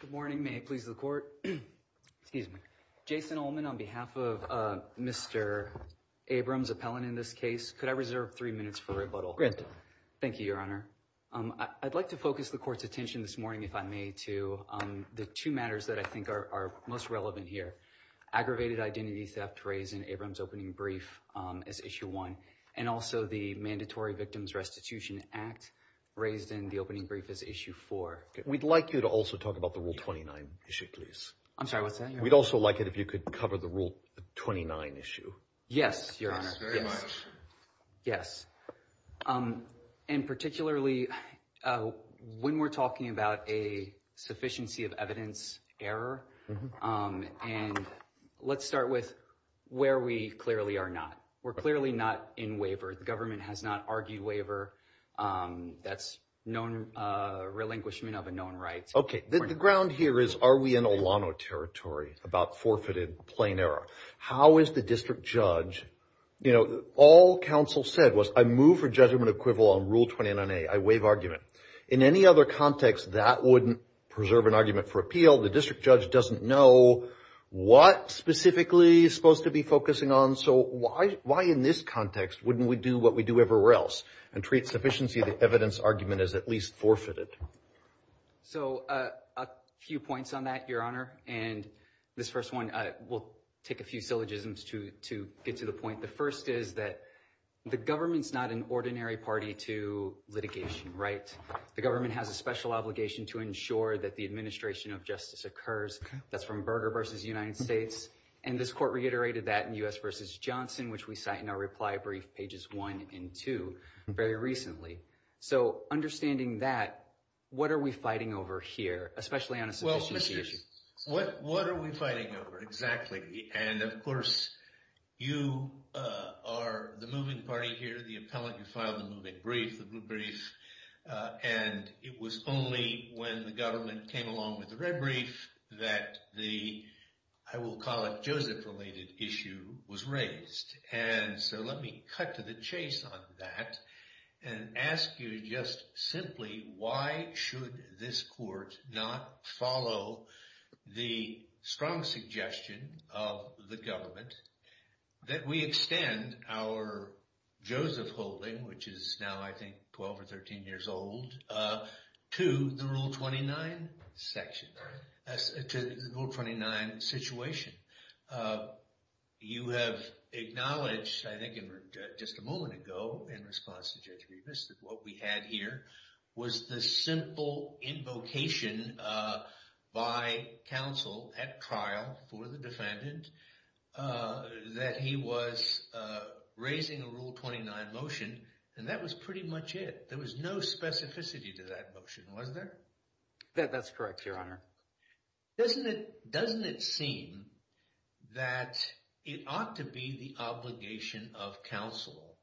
Good morning, may it please the court. Excuse me, Jason Allman on behalf of Mr. Abrams appellant in this case. Could I reserve three minutes for rebuttal? Thank you, Your Honor. I'd like to focus the court's attention this morning if I may to the two matters that I think are most relevant here. Aggravated identity theft raised in Abrams opening brief as issue one and also the mandatory victims restitution act raised in the opening brief as issue four. We'd like you to also talk about the rule 29 issue, please. I'm sorry, what's that? We'd also like it if you could cover the rule 29 issue. Yes, Your Honor. Yes. And particularly when we're talking about a sufficiency of evidence error. And let's start with where we clearly are not. We're clearly not in waiver. The government has not argued waiver. That's known relinquishment of a known right. Okay. The ground here is are we in Olano territory about forfeited plain error? How is the district judge, you know, all counsel said was I move for judgment equivalent on rule 29A. I waive argument. In any other context, that wouldn't preserve an argument for appeal. The district judge doesn't know what specifically is supposed to be focusing on. So why in this context wouldn't we do what we do everywhere else and treat sufficiency of the evidence argument as at least forfeited? So a few points on that, Your Honor. And this first one will take a few syllogisms to get to the point. The first is that the government's not an ordinary party to litigation, right? The government has a special obligation to ensure that the administration of justice occurs. That's from Berger v. United States. And this court reiterated that in U.S. v. Johnson, which we cite in our reply brief pages one and two very recently. So understanding that, what are we fighting over here, especially on a sufficiency issue? Well, what are we fighting over exactly? And of course, you are the moving party here, the appellate. You filed the moving brief, the group brief. And it was only when the government came along with the red brief that the, I will call it Joseph-related issue was raised. And so let me cut to the chase on that and ask you just simply, why should this court not follow the strong suggestion of the government that we extend our Joseph holding, which is now I think 12 or 13 years old, to the Rule 29 section, to the Rule 29 situation? You have acknowledged, I think just a moment ago in response to Judge Rivas, that what we had here was the simple invocation by counsel at trial for the defendant that he was raising a Rule 29 motion. And that was pretty much it. There was no specificity to that motion, was there? That's correct, Your Honor. Doesn't it seem that it ought to be the obligation of counsel?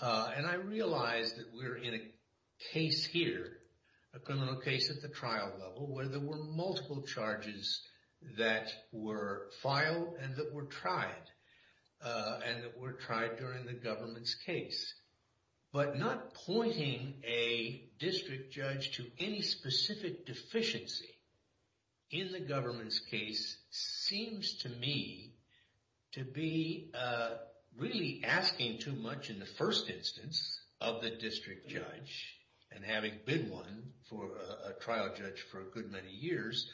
And I realize that we're in a case here, a criminal case at the trial level, where there were multiple charges that were filed and that were tried. And that were tried during the government's case. But not pointing a district judge to any specific deficiency in the government's case seems to me to be really asking too much in the first instance of the district judge. And having been one for a trial judge for a good many years,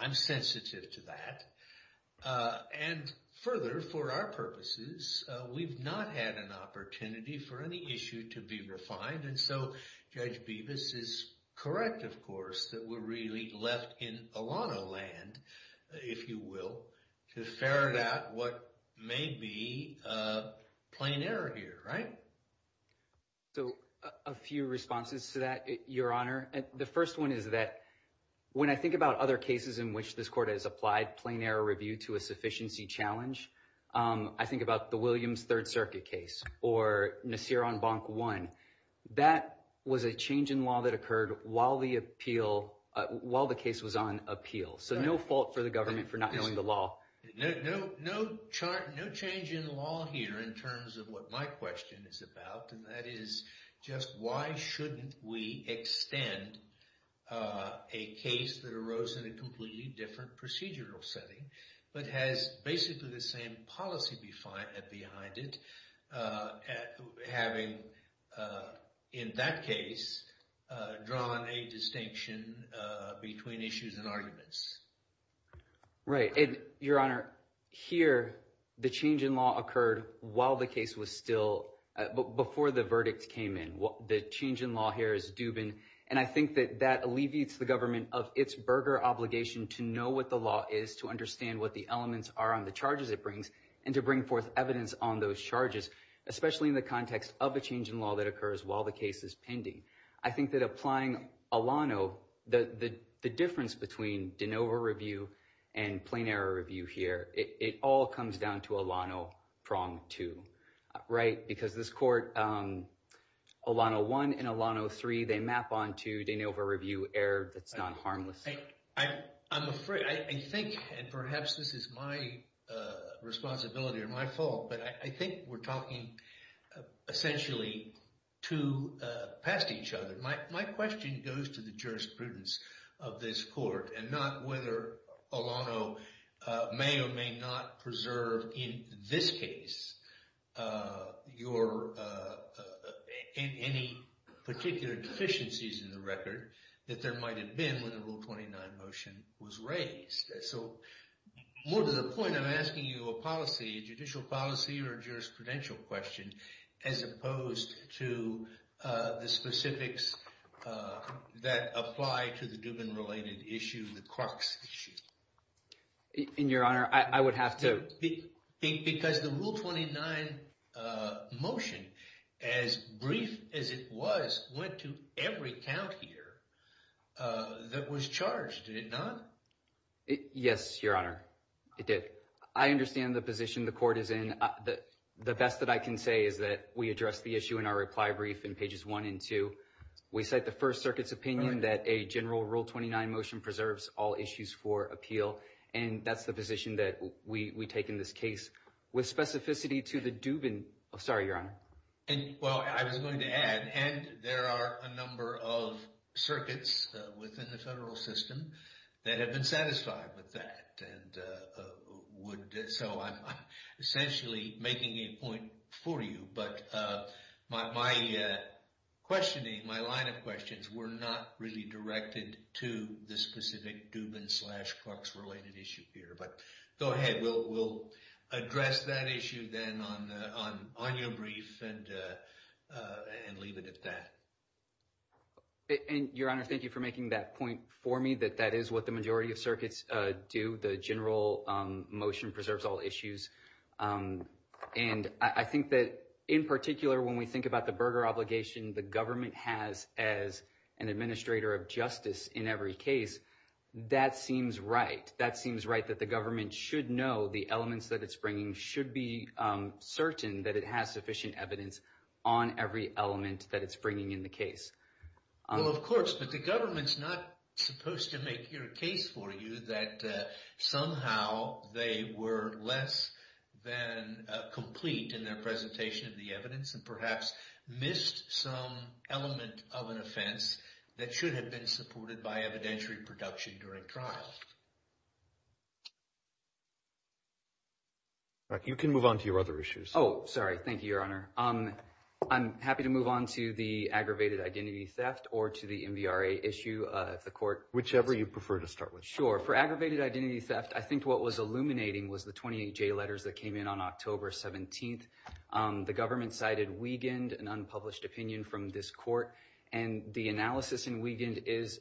I'm sensitive to that. And further, for our purposes, we've not had an opportunity for any issue to be refined. And so Judge Rivas is correct, of course, that we're really left in a lot of land, if you will, to ferret out what may be a plain error here, right? So a few responses to that, Your Honor. The first one is that when I think about other cases in which this Court has applied plain error review to a sufficiency challenge, I think about the Williams Third Circuit case or Nassir-on-Bonk One. That was a change in law that occurred while the appeal, while the case was on appeal. So no fault for the government for not knowing the law. No change in law here in terms of what my question is about, and that is just why shouldn't we extend a case that arose in a completely different procedural setting but has basically the same policy behind it, having, in that case, drawn a distinction between issues and arguments. Right. And, Your Honor, here, the change in law occurred while the case was still, before the verdict came in. The change in law here is Dubin, and I think that that alleviates the government of its burger obligation to know what the law is, to understand what the elements are on the charges it brings, and to bring forth evidence on those charges, especially in the context of a change in law that occurs while the case is pending. I think that applying Alano, the difference between de novo review and plain error review here, it all comes down to Alano prong two, right? Because this court, Alano one and Alano three, they map onto de novo review error that's not harmless. I'm afraid, I think, and perhaps this is my responsibility or my fault, but I think we're talking essentially two past each other. My question goes to the jurisprudence of this court and not whether Alano may or may not preserve, in this case, any particular deficiencies in the record that there might have been when the Rule 29 motion was raised. More to the point, I'm asking you a policy, a judicial policy or jurisprudential question, as opposed to the specifics that apply to the Dubin-related issue, the Crocs issue. Your Honor, I would have to- Because the Rule 29 motion, as brief as it was, went to every count here that was charged, did it not? Yes, Your Honor, it did. I understand the position the court is in. The best that I can say is that we addressed the issue in our reply brief in pages one and two. We cite the First Circuit's opinion that a general Rule 29 motion preserves all issues for appeal, and that's the position that we take in this case. With specificity to the Dubin- Sorry, Your Honor. Well, I was going to add, and there are a number of circuits within the federal system that have been satisfied with that. I'm essentially making a point for you, but my line of questions were not really directed to the specific Dubin- on your brief, and leave it at that. Your Honor, thank you for making that point for me, that that is what the majority of circuits do. The general motion preserves all issues, and I think that in particular, when we think about the Berger obligation the government has as an administrator of justice in every case, that seems right. That seems right that the government should know the elements that it's bringing, should be certain that it has sufficient evidence on every element that it's bringing in the case. Well, of course, but the government's not supposed to make your case for you that somehow they were less than complete in their presentation of the evidence, and perhaps missed some element of an offense that should have been supported by evidentiary production during trial. You can move on to your other issues. Oh, sorry. Thank you, Your Honor. I'm happy to move on to the aggravated identity theft, or to the MVRA issue, if the court- Whichever you prefer to start with. Sure. For aggravated identity theft, I think what was illuminating was the 28J letters that came in on October 17th. The government cited Wiegand, an unpublished opinion from this court, and the analysis in Wiegand is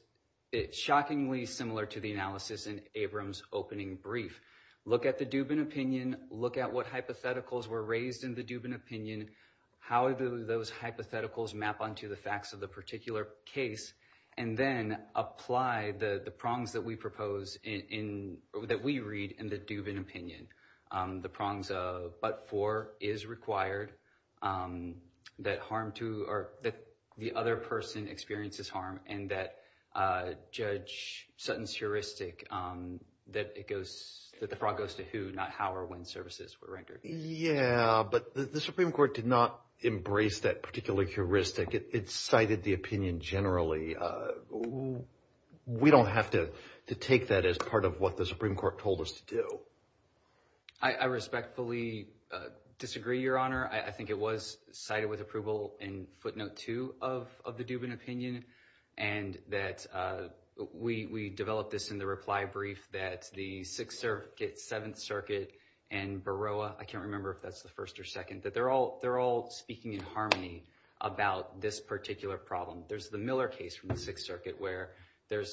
shockingly similar to the analysis in Abrams' opening brief. Look at the Dubin opinion, look at what hypotheticals were raised in the Dubin opinion, how those hypotheticals map onto the facts of the particular case, and then apply the prongs that we propose in- that we read in the Dubin opinion. The prongs of, but for, is required, that harm to, or that the other person experiences harm, and that Judge Sutton's heuristic, that it goes, that the frog goes to who, not how or when services were rendered. Yeah, but the Supreme Court did not embrace that particular heuristic. It cited the opinion generally. We don't have to take that as part of what the Supreme Court told us to do. I respectfully disagree, Your Honor. I think it was cited with approval in footnote two of the Dubin opinion, and that we developed this in the reply brief that the Sixth Circuit, Seventh Circuit, and Baroah, I can't remember if that's the first or second, that they're all speaking in harmony about this particular problem. There's the Miller case from the Sixth Circuit where there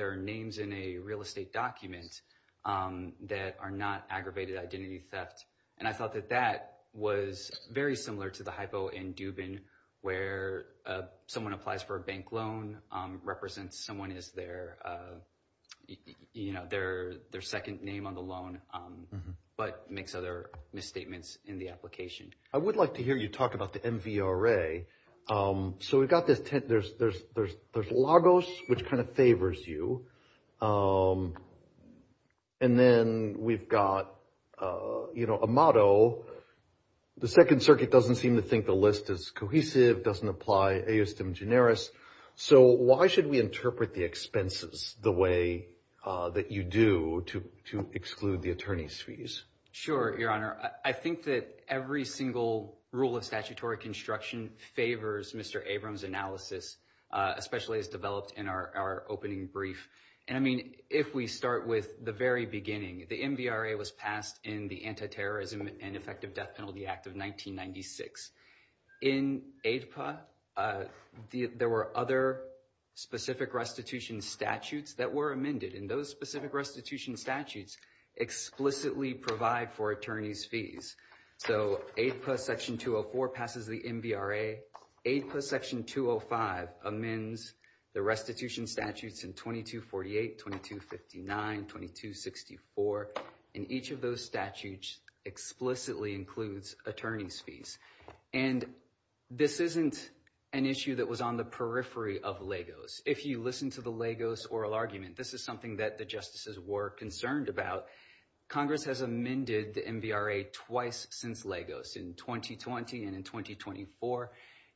are names in a real estate document that are not aggravated identity theft, and I thought that that was very similar to the hypo in Dubin where someone applies for a bank loan, represents someone as their, you know, their second name on the loan, but makes other misstatements in the application. I would like to hear you talk about the MVRA. So we've got this, there's Lagos, which kind of favors you, and then we've got, you know, Amado. The Second Circuit doesn't seem to think the list is cohesive, doesn't apply, e iustem generis. So why should we interpret the expenses the way that you do to exclude the attorney's fees? Sure, Your Honor. I think that every single rule of statutory construction favors Mr. Abrams' analysis, especially as developed in our opening brief, and I mean, if we start with the very beginning, the MVRA was passed in the Antiterrorism and Effective Death Penalty Act of 1996. In AEDPA, there were other specific restitution statutes that were amended, and those specific restitution statutes explicitly provide for attorney's fees. So AEDPA Section 204 passes the MVRA. AEDPA Section 205 amends the restitution statutes in 2248, 2259, 2264, and each of those statutes explicitly includes attorney's fees. And this isn't an issue that was on the periphery of Lagos. If you listen to the Lagos oral argument, this is something that the justices were concerned about. Congress has amended the MVRA twice since Lagos, in 2020 and in 2024.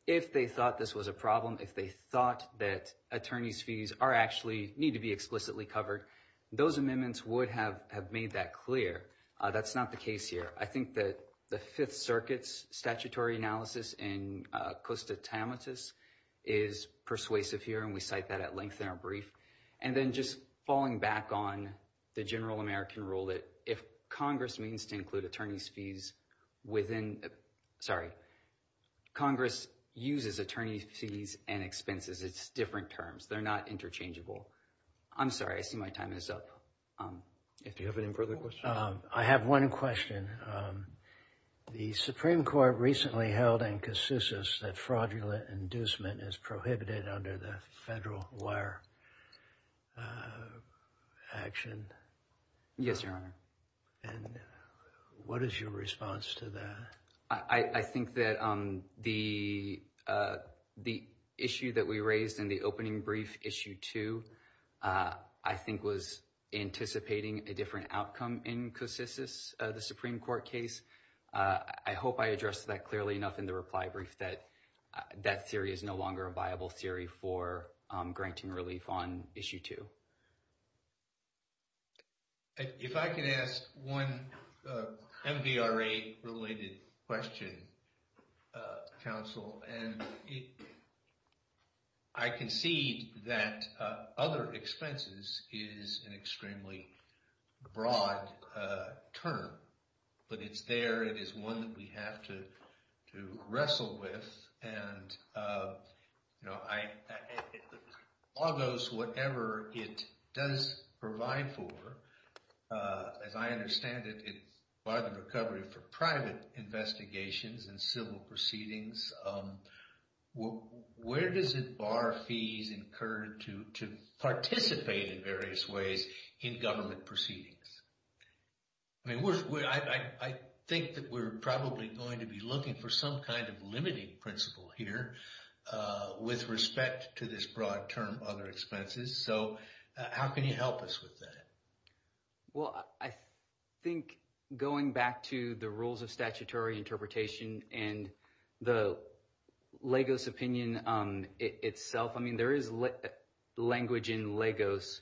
If they thought this was a problem, if they thought that attorney's fees are actually, need to be explicitly covered, those amendments would have made that clear. That's not the case here. I think that the Fifth Circuit's statutory analysis in costa tamatis is persuasive here, and we cite that at length in our brief. And then just falling back on the general American rule that if Congress means to include attorney's fees within, sorry, Congress uses attorney's fees and expenses. It's different terms. They're not interchangeable. I'm sorry, I see my time is up. If you have any further questions. I have one question. The Supreme Court recently held in casusus that fraudulent inducement is prohibited under the federal wire action. Yes, Your Honor. And what is your response to that? I think that the issue that we raised in the opening brief issue two, I think was anticipating a different outcome in casusus, the Supreme Court case. I hope I addressed that clearly enough in the reply brief that that theory is no longer a viable theory for granting relief on issue two. If I could ask one MVRA-related question, counsel, and I concede that other expenses is an extremely broad term, but it's there. It is one that we have to wrestle with. And, you know, I, and all those, whatever it does provide for, as I understand it, it's by the recovery for private investigations and civil proceedings. Where does it bar fees incurred to participate in various ways in government proceedings? I mean, I think that we're probably going to be looking for some limiting principle here with respect to this broad term, other expenses. So how can you help us with that? Well, I think going back to the rules of statutory interpretation and the Lagos opinion itself, I mean, there is language in Lagos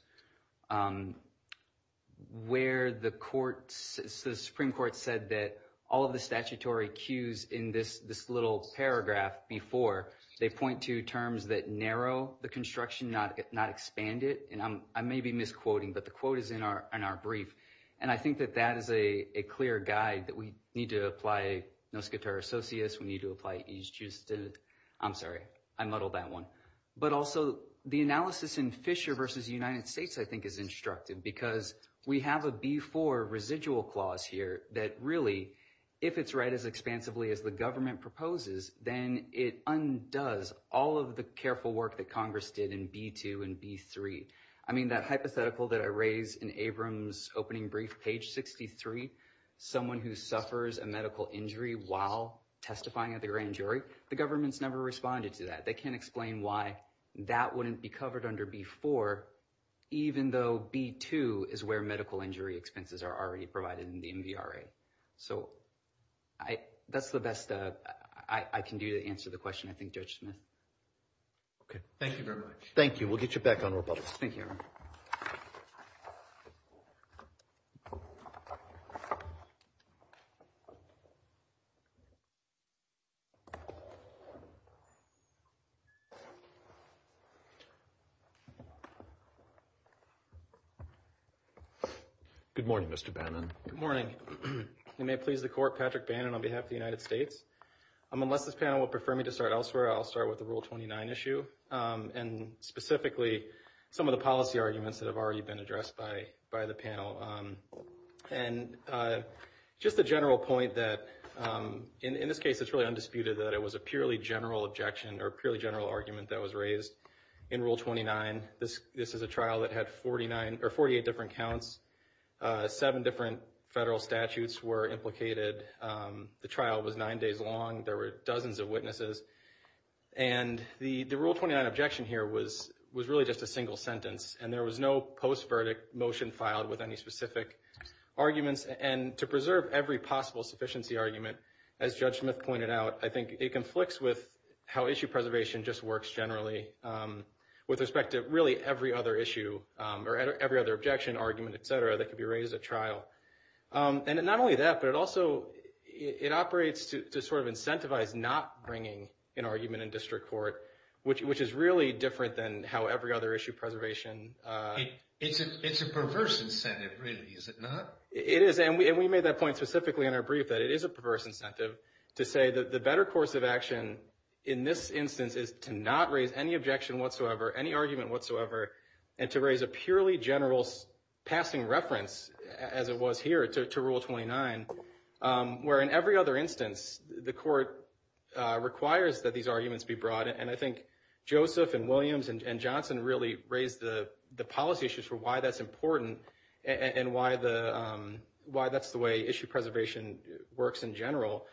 where the courts, the Supreme Court said that all of the statutory cues in this little paragraph before, they point to terms that narrow the construction, not expand it. And I may be misquoting, but the quote is in our brief. And I think that that is a clear guide that we need to apply nos quatera socius. We need to apply each just to, I'm sorry, I muddled that one. But also the analysis in Fisher versus United States, I think is instructive because we have a B4 residual clause here that really, if it's read as expansively as the government proposes, then it undoes all of the careful work that Congress did in B2 and B3. I mean, that hypothetical that I raised in Abrams opening brief, page 63, someone who suffers a medical injury while testifying at the grand jury, the government's responded to that. They can't explain why that wouldn't be covered under B4, even though B2 is where medical injury expenses are already provided in the MVRA. So that's the best I can do to answer the question, I think, Judge Smith. Okay. Thank you very much. Thank you. We'll get you back on the line. Good morning, Mr. Bannon. Good morning. You may please the court. Patrick Bannon on behalf of the United States. Unless this panel will prefer me to start elsewhere, I'll start with the Rule 29 issue and specifically some of the policy arguments that have already been addressed by the panel. And just the general point that in this case, it's really undisputed that it was a purely general argument that was raised in Rule 29. This is a trial that had 48 different counts. Seven different federal statutes were implicated. The trial was nine days long. There were dozens of witnesses. And the Rule 29 objection here was really just a single sentence. And there was no post-verdict motion filed with any specific arguments. And to preserve every possible sufficiency argument, as Judge Smith pointed out, I think it conflicts with how issue preservation just works generally with respect to really every other issue or every other objection, argument, et cetera, that could be raised at trial. And not only that, but it also, it operates to sort of incentivize not bringing an argument in district court, which is really different than how every other issue preservation... It's a perverse incentive really, is it not? It is. And we made that point specifically in our brief that it is a perverse incentive to say that the better course of action in this instance is to not raise any objection whatsoever, any argument whatsoever, and to raise a purely general passing reference, as it was here to Rule 29, where in every other instance, the court requires that these arguments be brought. And I think Joseph and Williams and Johnson really raised the policy issues for why that's important and why that's the way issue preservation works in general,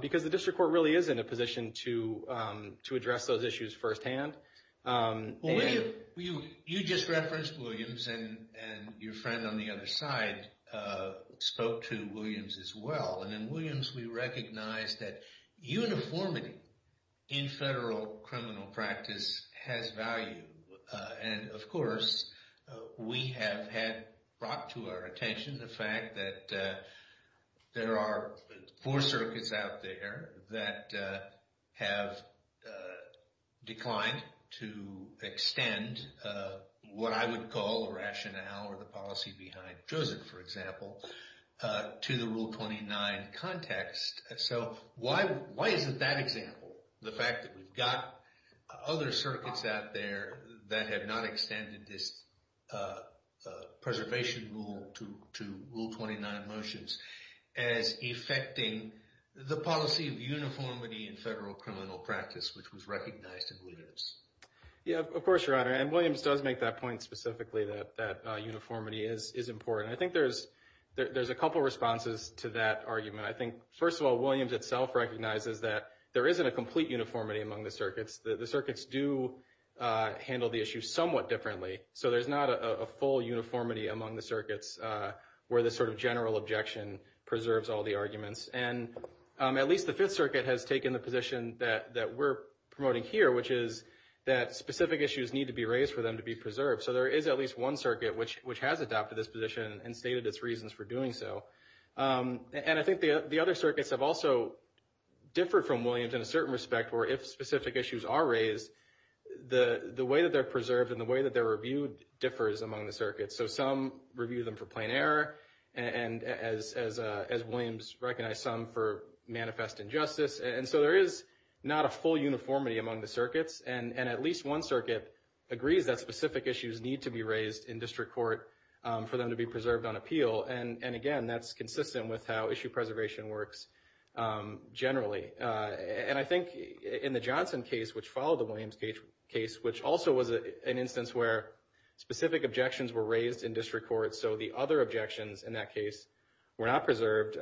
because the district court really is in a position to address those issues firsthand. Well, you just referenced Williams and your friend on the other side spoke to Williams as well. And in Williams, we recognize that uniformity in federal criminal practice has value. And of course, we have had brought to our attention the fact that there are four circuits out there that have declined to extend what I would call a rationale or the policy behind Joseph, for example, to the Rule 29 context. So why is it that example? The fact that we've got other circuits out there that have not extended this preservation rule to Rule 29 motions as affecting the policy of uniformity in federal criminal practice, which was recognized in Williams? Yeah, of course, Your Honor. And Williams does make that point specifically that uniformity is important. I think there's a couple responses to that argument. I think, first of all, Williams itself recognizes that there isn't a complete uniformity among the circuits. The circuits do handle the issue somewhat differently. So there's not a full uniformity among the circuits where the sort of general objection preserves all the arguments. And at least the Fifth Circuit has taken the position that we're promoting here, which is that specific issues need to be raised for them to be preserved. So there is at least one circuit which has adopted this position and stated its reasons for doing so. And I think the other circuits have also differed from Williams in a certain respect, where if specific issues are raised, the way that they're preserved and the way that they're reviewed differs among the circuits. So some review them for plain error, as Williams recognized some for manifest injustice. And so there is not a full uniformity among the circuits. And at least one circuit agrees that specific issues need to be raised in district court for them to be preserved on appeal. And again, that's consistent with how issue preservation works generally. And I think in the Johnson case, which followed the Williams case, which also was an instance where specific objections were raised in district court, so the other objections in that case were not preserved,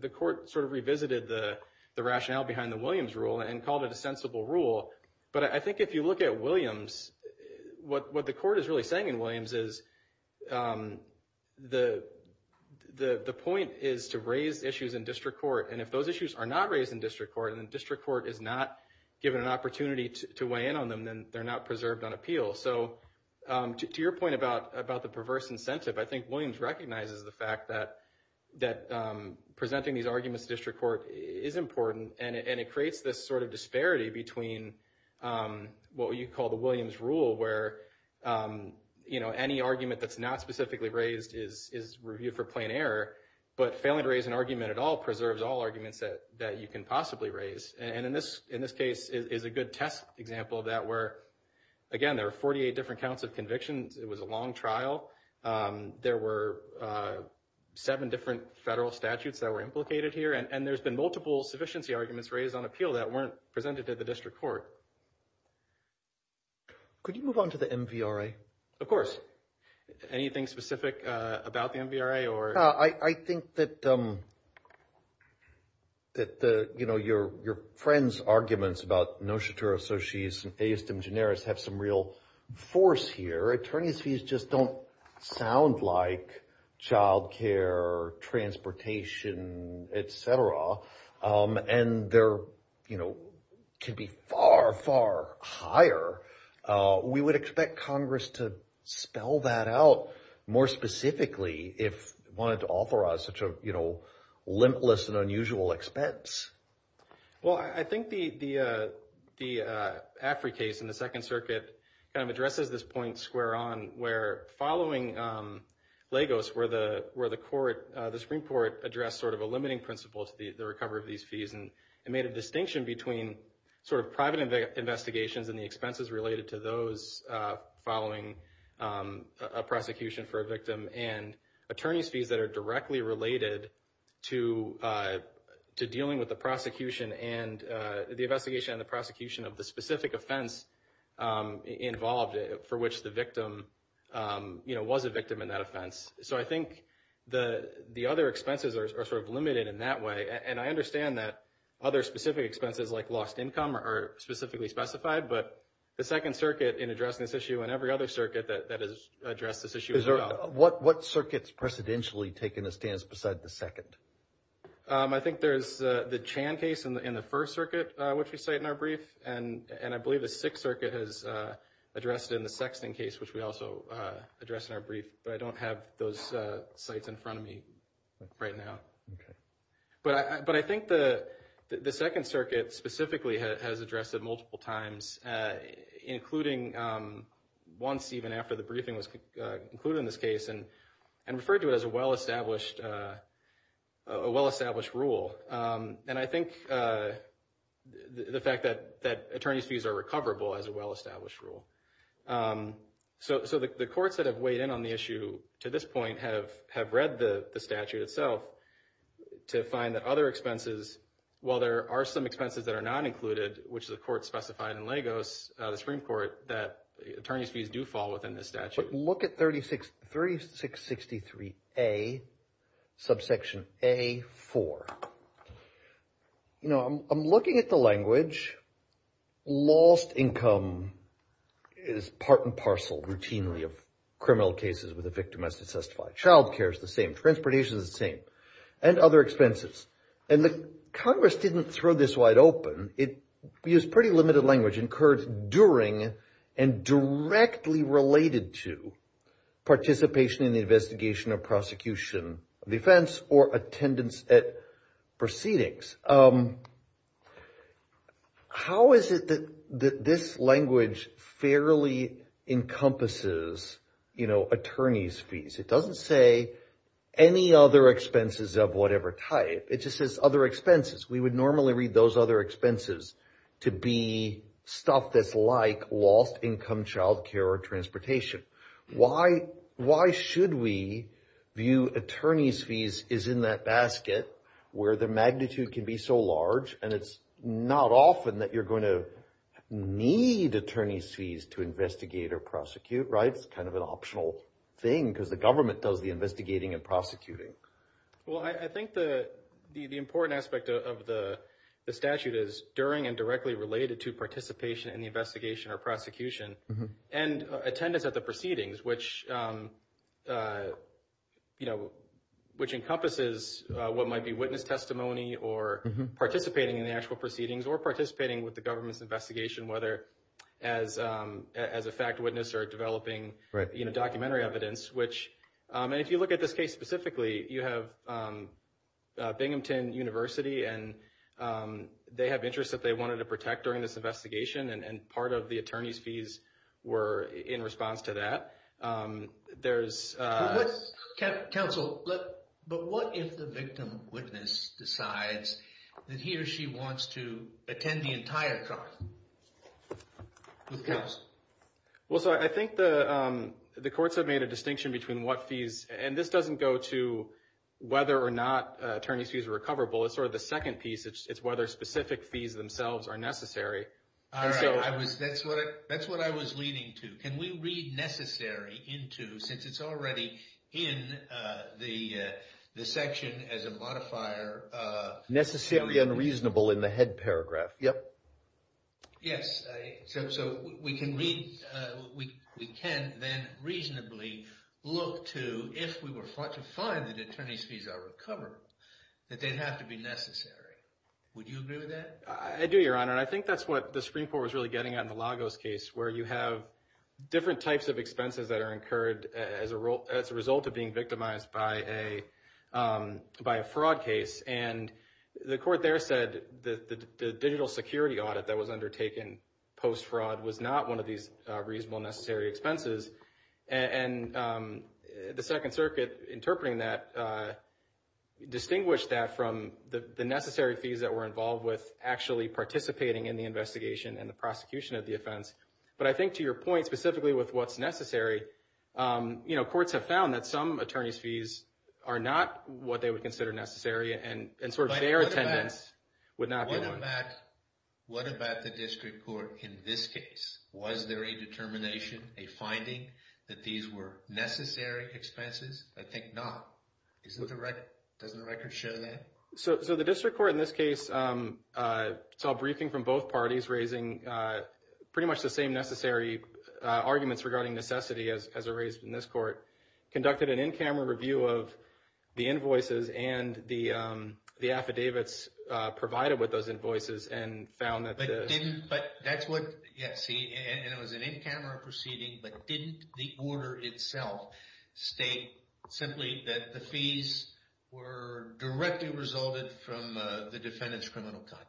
the court sort of revisited the rationale behind the Williams rule and called it a sensible rule. But I think if you look at Williams, what the court is really saying in Williams is the point is to raise issues in district court. And if those issues are not raised in district court and district court is not given an opportunity to weigh in on them, then they're not preserved on appeal. So to your point about the perverse incentive, I think Williams recognizes the fact that presenting these arguments in district court is important, and it creates this sort of disparity between what you call the Williams rule, where any argument that's not specifically raised is reviewed for plain error, but failing to raise an argument at all preserves all arguments that you can possibly raise. And in this case is a good test example of that where, again, there are 48 different counts of convictions. It was a long trial. There were seven different federal statutes that were implicated here, and there's been multiple sufficiency arguments raised on appeal that weren't presented to the district court. Could you move on to the MVRA? Of course. Anything specific about the MVRA? No, I think that your friend's arguments about no chateau associates and aestem generis have some force here. Attorney's fees just don't sound like child care, transportation, et cetera, and they can be far, far higher. We would expect Congress to spell that out more specifically if it wanted to authorize such a limitless and unusual expense. Well, I think the AFRI case in the Second Circuit kind of addresses this point square on where following Lagos, where the Supreme Court addressed sort of a limiting principle to the recovery of these fees and made a distinction between sort of private investigations and the expenses related to those following a prosecution for a victim and attorney's fees that are directly related to dealing with the investigation and the prosecution of the specific offense involved for which the victim was a victim in that offense. So I think the other expenses are sort of limited in that way, and I understand that other specific expenses like lost income are specifically specified, but the Second Circuit in addressing this issue and every other circuit that has addressed this issue as well. What circuit's precedentially taken a stance beside the Second? I think there's the Chan case in the First Circuit, which we cite in our brief, and I believe the Sixth Circuit has addressed it in the Sexton case, which we also address in our brief, but I don't have those sites in front of me right now. But I think the Second Circuit specifically has addressed it multiple times, including once even after the briefing was concluded in this case, and referred to it as a well-established rule. And I think the fact that attorney's fees are recoverable is a well-established rule. So the courts that have weighed in on the issue to this point have read the statute itself to find that other expenses, while there are some that are not included, which the court specified in Lagos, the Supreme Court, that attorney's fees do fall within the statute. But look at 3663A, subsection A4. You know, I'm looking at the language, lost income is part and parcel routinely of criminal cases with a victim as testified. Child care is the same, transportation is the same, and other expenses. And the Congress didn't throw this wide open. It used pretty limited language, incurred during and directly related to participation in the investigation or prosecution of the offense or attendance at proceedings. How is it that this language fairly encompasses, you know, attorney's fees? It doesn't say any other expenses of whatever type. It just says other expenses. We would normally read those other expenses to be stuff that's like lost income, child care, or transportation. Why should we view attorney's fees as in that basket, where the magnitude can be so large, and it's not often that you're going to need attorney's fees to investigate or prosecute, right? It's kind of an optional thing, because the government does the investigating and prosecuting. Well, I think the important aspect of the statute is during and directly related to participation in the investigation or prosecution, and attendance at the proceedings, which encompasses what might be witness testimony, or participating in the actual proceedings, or participating with the government's investigation, whether as a fact witness or developing documentary evidence. And if you look at this case specifically, you have Binghamton University, and they have interests that they wanted to protect during this investigation, and part of the attorney's fees were in response to that. Counsel, but what if the victim witness decides that he or she wants to attend the entire trial? Who counts? Well, so I think the courts have made a distinction between what fees, and this doesn't go to whether or not attorney's fees are recoverable. It's sort of the second piece. It's whether specific fees themselves are necessary. All right. That's what I was leaning to. Can we read necessary into, since it's already in the section as a modifier? Necessary and reasonable in the head paragraph. Yep. Yes. So we can read, we can then reasonably look to, if we were to find that attorney's fees are recoverable, that they'd have to be necessary. Would you agree with that? I do, Your Honor. And I think that's what the Supreme Court was really getting at in the Lagos case, where you have different types of expenses that are incurred as a result of being victimized by a fraud case. And the court there said the digital security audit that was undertaken post-fraud was not one of these reasonable, necessary expenses. And the Second Circuit interpreting that distinguished that from the necessary fees that were involved with actually participating in the investigation and the prosecution of the offense. But I think to your point, specifically with what's necessary, courts have found that some attorneys' fees are not what they would consider necessary, and sort of fair attendance would not be one. What about the district court in this case? Was there a determination, a finding that these were necessary expenses? I think not. Doesn't the record show that? So the district court in this case saw a briefing from both parties raising pretty much the same necessary arguments regarding necessity as are raised in this court, conducted an in-camera review of the invoices and the affidavits provided with those invoices, and found that the... Yes, and it was an in-camera proceeding, but didn't the order itself state simply that the fees were directly resulted from the defendant's criminal conduct?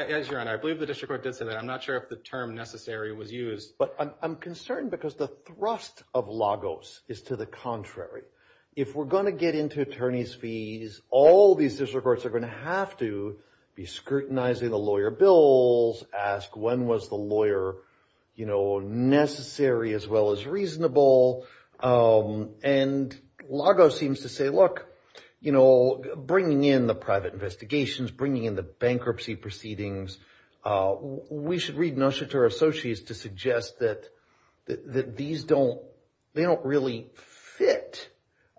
As your Honor, I believe the district court did say that. I'm not sure if the term necessary was used. But I'm concerned because the thrust of Lagos is to the contrary. If we're going to get into attorneys' fees, all these district courts are going to have to be scrutinizing the lawyer bills, ask when was the lawyer necessary as well as reasonable. And Lagos seems to say, you know, bringing in the private investigations, bringing in the bankruptcy proceedings, we should read Nushatur Associates to suggest that they don't really fit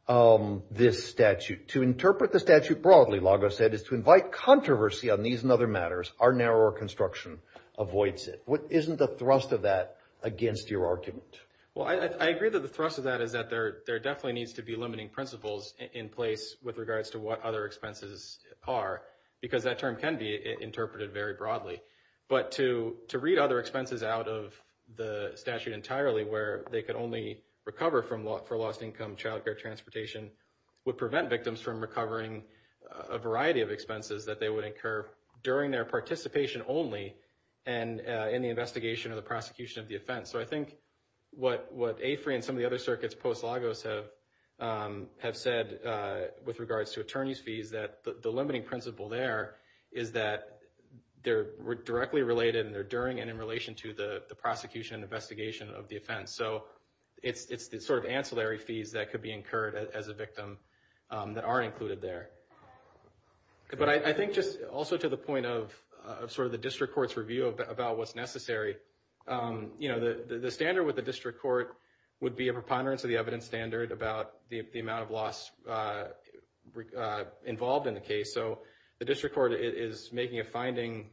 this statute. To interpret the statute broadly, Lagos said, is to invite controversy on these and other matters. Our narrower construction avoids it. Isn't the thrust of that against your argument? Well, I agree that the thrust of that is that there definitely needs to be limiting principles in place with regards to what other expenses are because that term can be interpreted very broadly. But to read other expenses out of the statute entirely where they could only recover for lost income child care transportation would prevent victims from recovering a variety of expenses that they would incur during their participation only and in the investigation of the prosecution of the offense. So I think what AFRI and some of the other circuits post-Lagos have said with regards to attorney's fees that the limiting principle there is that they're directly related and they're during and in relation to the prosecution and investigation of the offense. So it's the sort of ancillary fees that could be incurred as a victim that aren't included there. But I think just also to the point of sort of the district court's review about what's necessary, you know, the standard with the district court would be a about the amount of loss involved in the case. So the district court is making a finding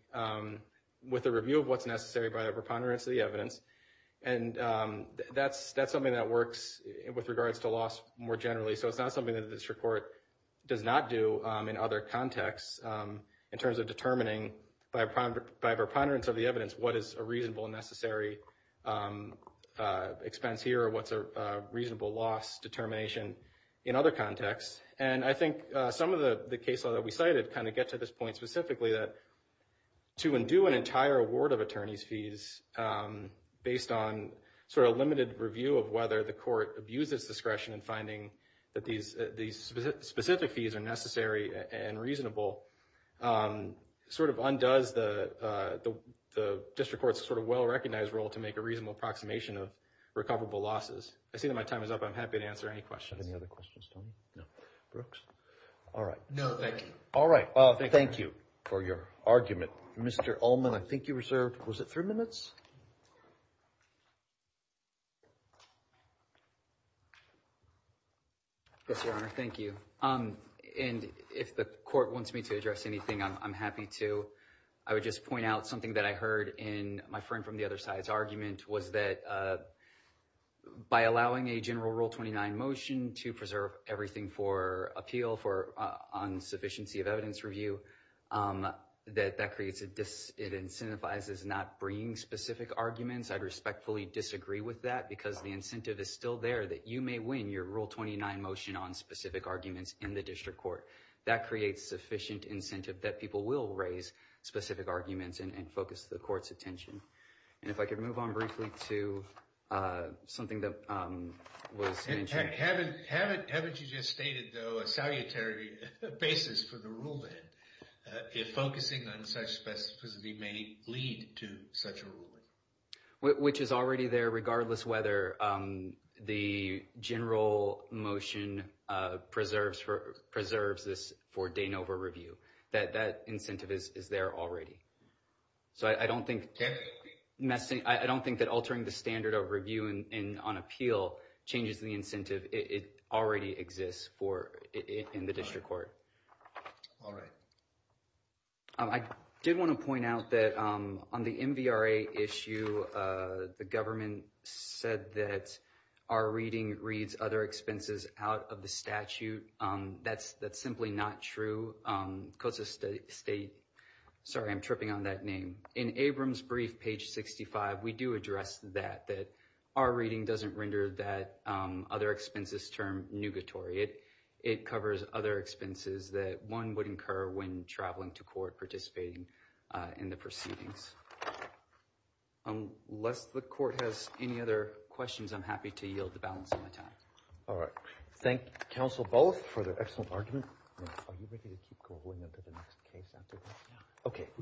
with a review of what's necessary by a preponderance of the evidence. And that's something that works with regards to loss more generally. So it's not something that the district court does not do in other contexts in terms of determining by a preponderance of evidence what is a reasonable and necessary expense here or what's a reasonable loss determination in other contexts. And I think some of the case law that we cited kind of get to this point specifically that to undo an entire award of attorney's fees based on sort of limited review of whether the court abuses discretion in finding that these specific fees are necessary and reasonable sort of undoes the district court's sort of well-recognized role to make a reasonable approximation of recoverable losses. I see that my time is up. I'm happy to answer any questions. Do you have any other questions, Tony? No. Brooks? All right. No, thank you. All right. Thank you for your argument. Mr. Ullman, I think you reserved, was it three minutes? Yes, Your Honor. Thank you. And if the court wants me to address anything, I'm happy to. I would just point out something that I heard in my friend from the other side's argument was that by allowing a general Rule 29 motion to preserve everything for appeal for on sufficiency of evidence review, that that creates, it incentivizes not bringing specific arguments. I respectfully disagree with that because the incentive is still there that you may win your Rule 29 motion on specific arguments in the district court. That creates sufficient incentive that people will raise specific arguments and focus the court's attention. And if I could move on briefly to something that was mentioned. Haven't you just stated, though, a salutary basis for the rule then, if focusing on such specificity may lead to such a ruling? Which is already there regardless whether the general motion preserves this for de novo review. That incentive is there already. So I don't think that altering the standard of review on appeal changes the incentive. It already exists in the district court. All right. I did want to point out that on the MVRA issue, the government said that our reading reads other expenses out of the statute. That's simply not true. Sorry, I'm tripping on that name. In Abrams' brief, page 65, we do address that, that our reading doesn't render that other expenses term nugatory. It covers other expenses that one would incur when traveling to court participating in the proceedings. Unless the court has any other questions, I'm happy to yield the balance of my time. All right. Thank you, counsel, both for the excellent argument. Are you ready to keep going into the next case after this? Okay.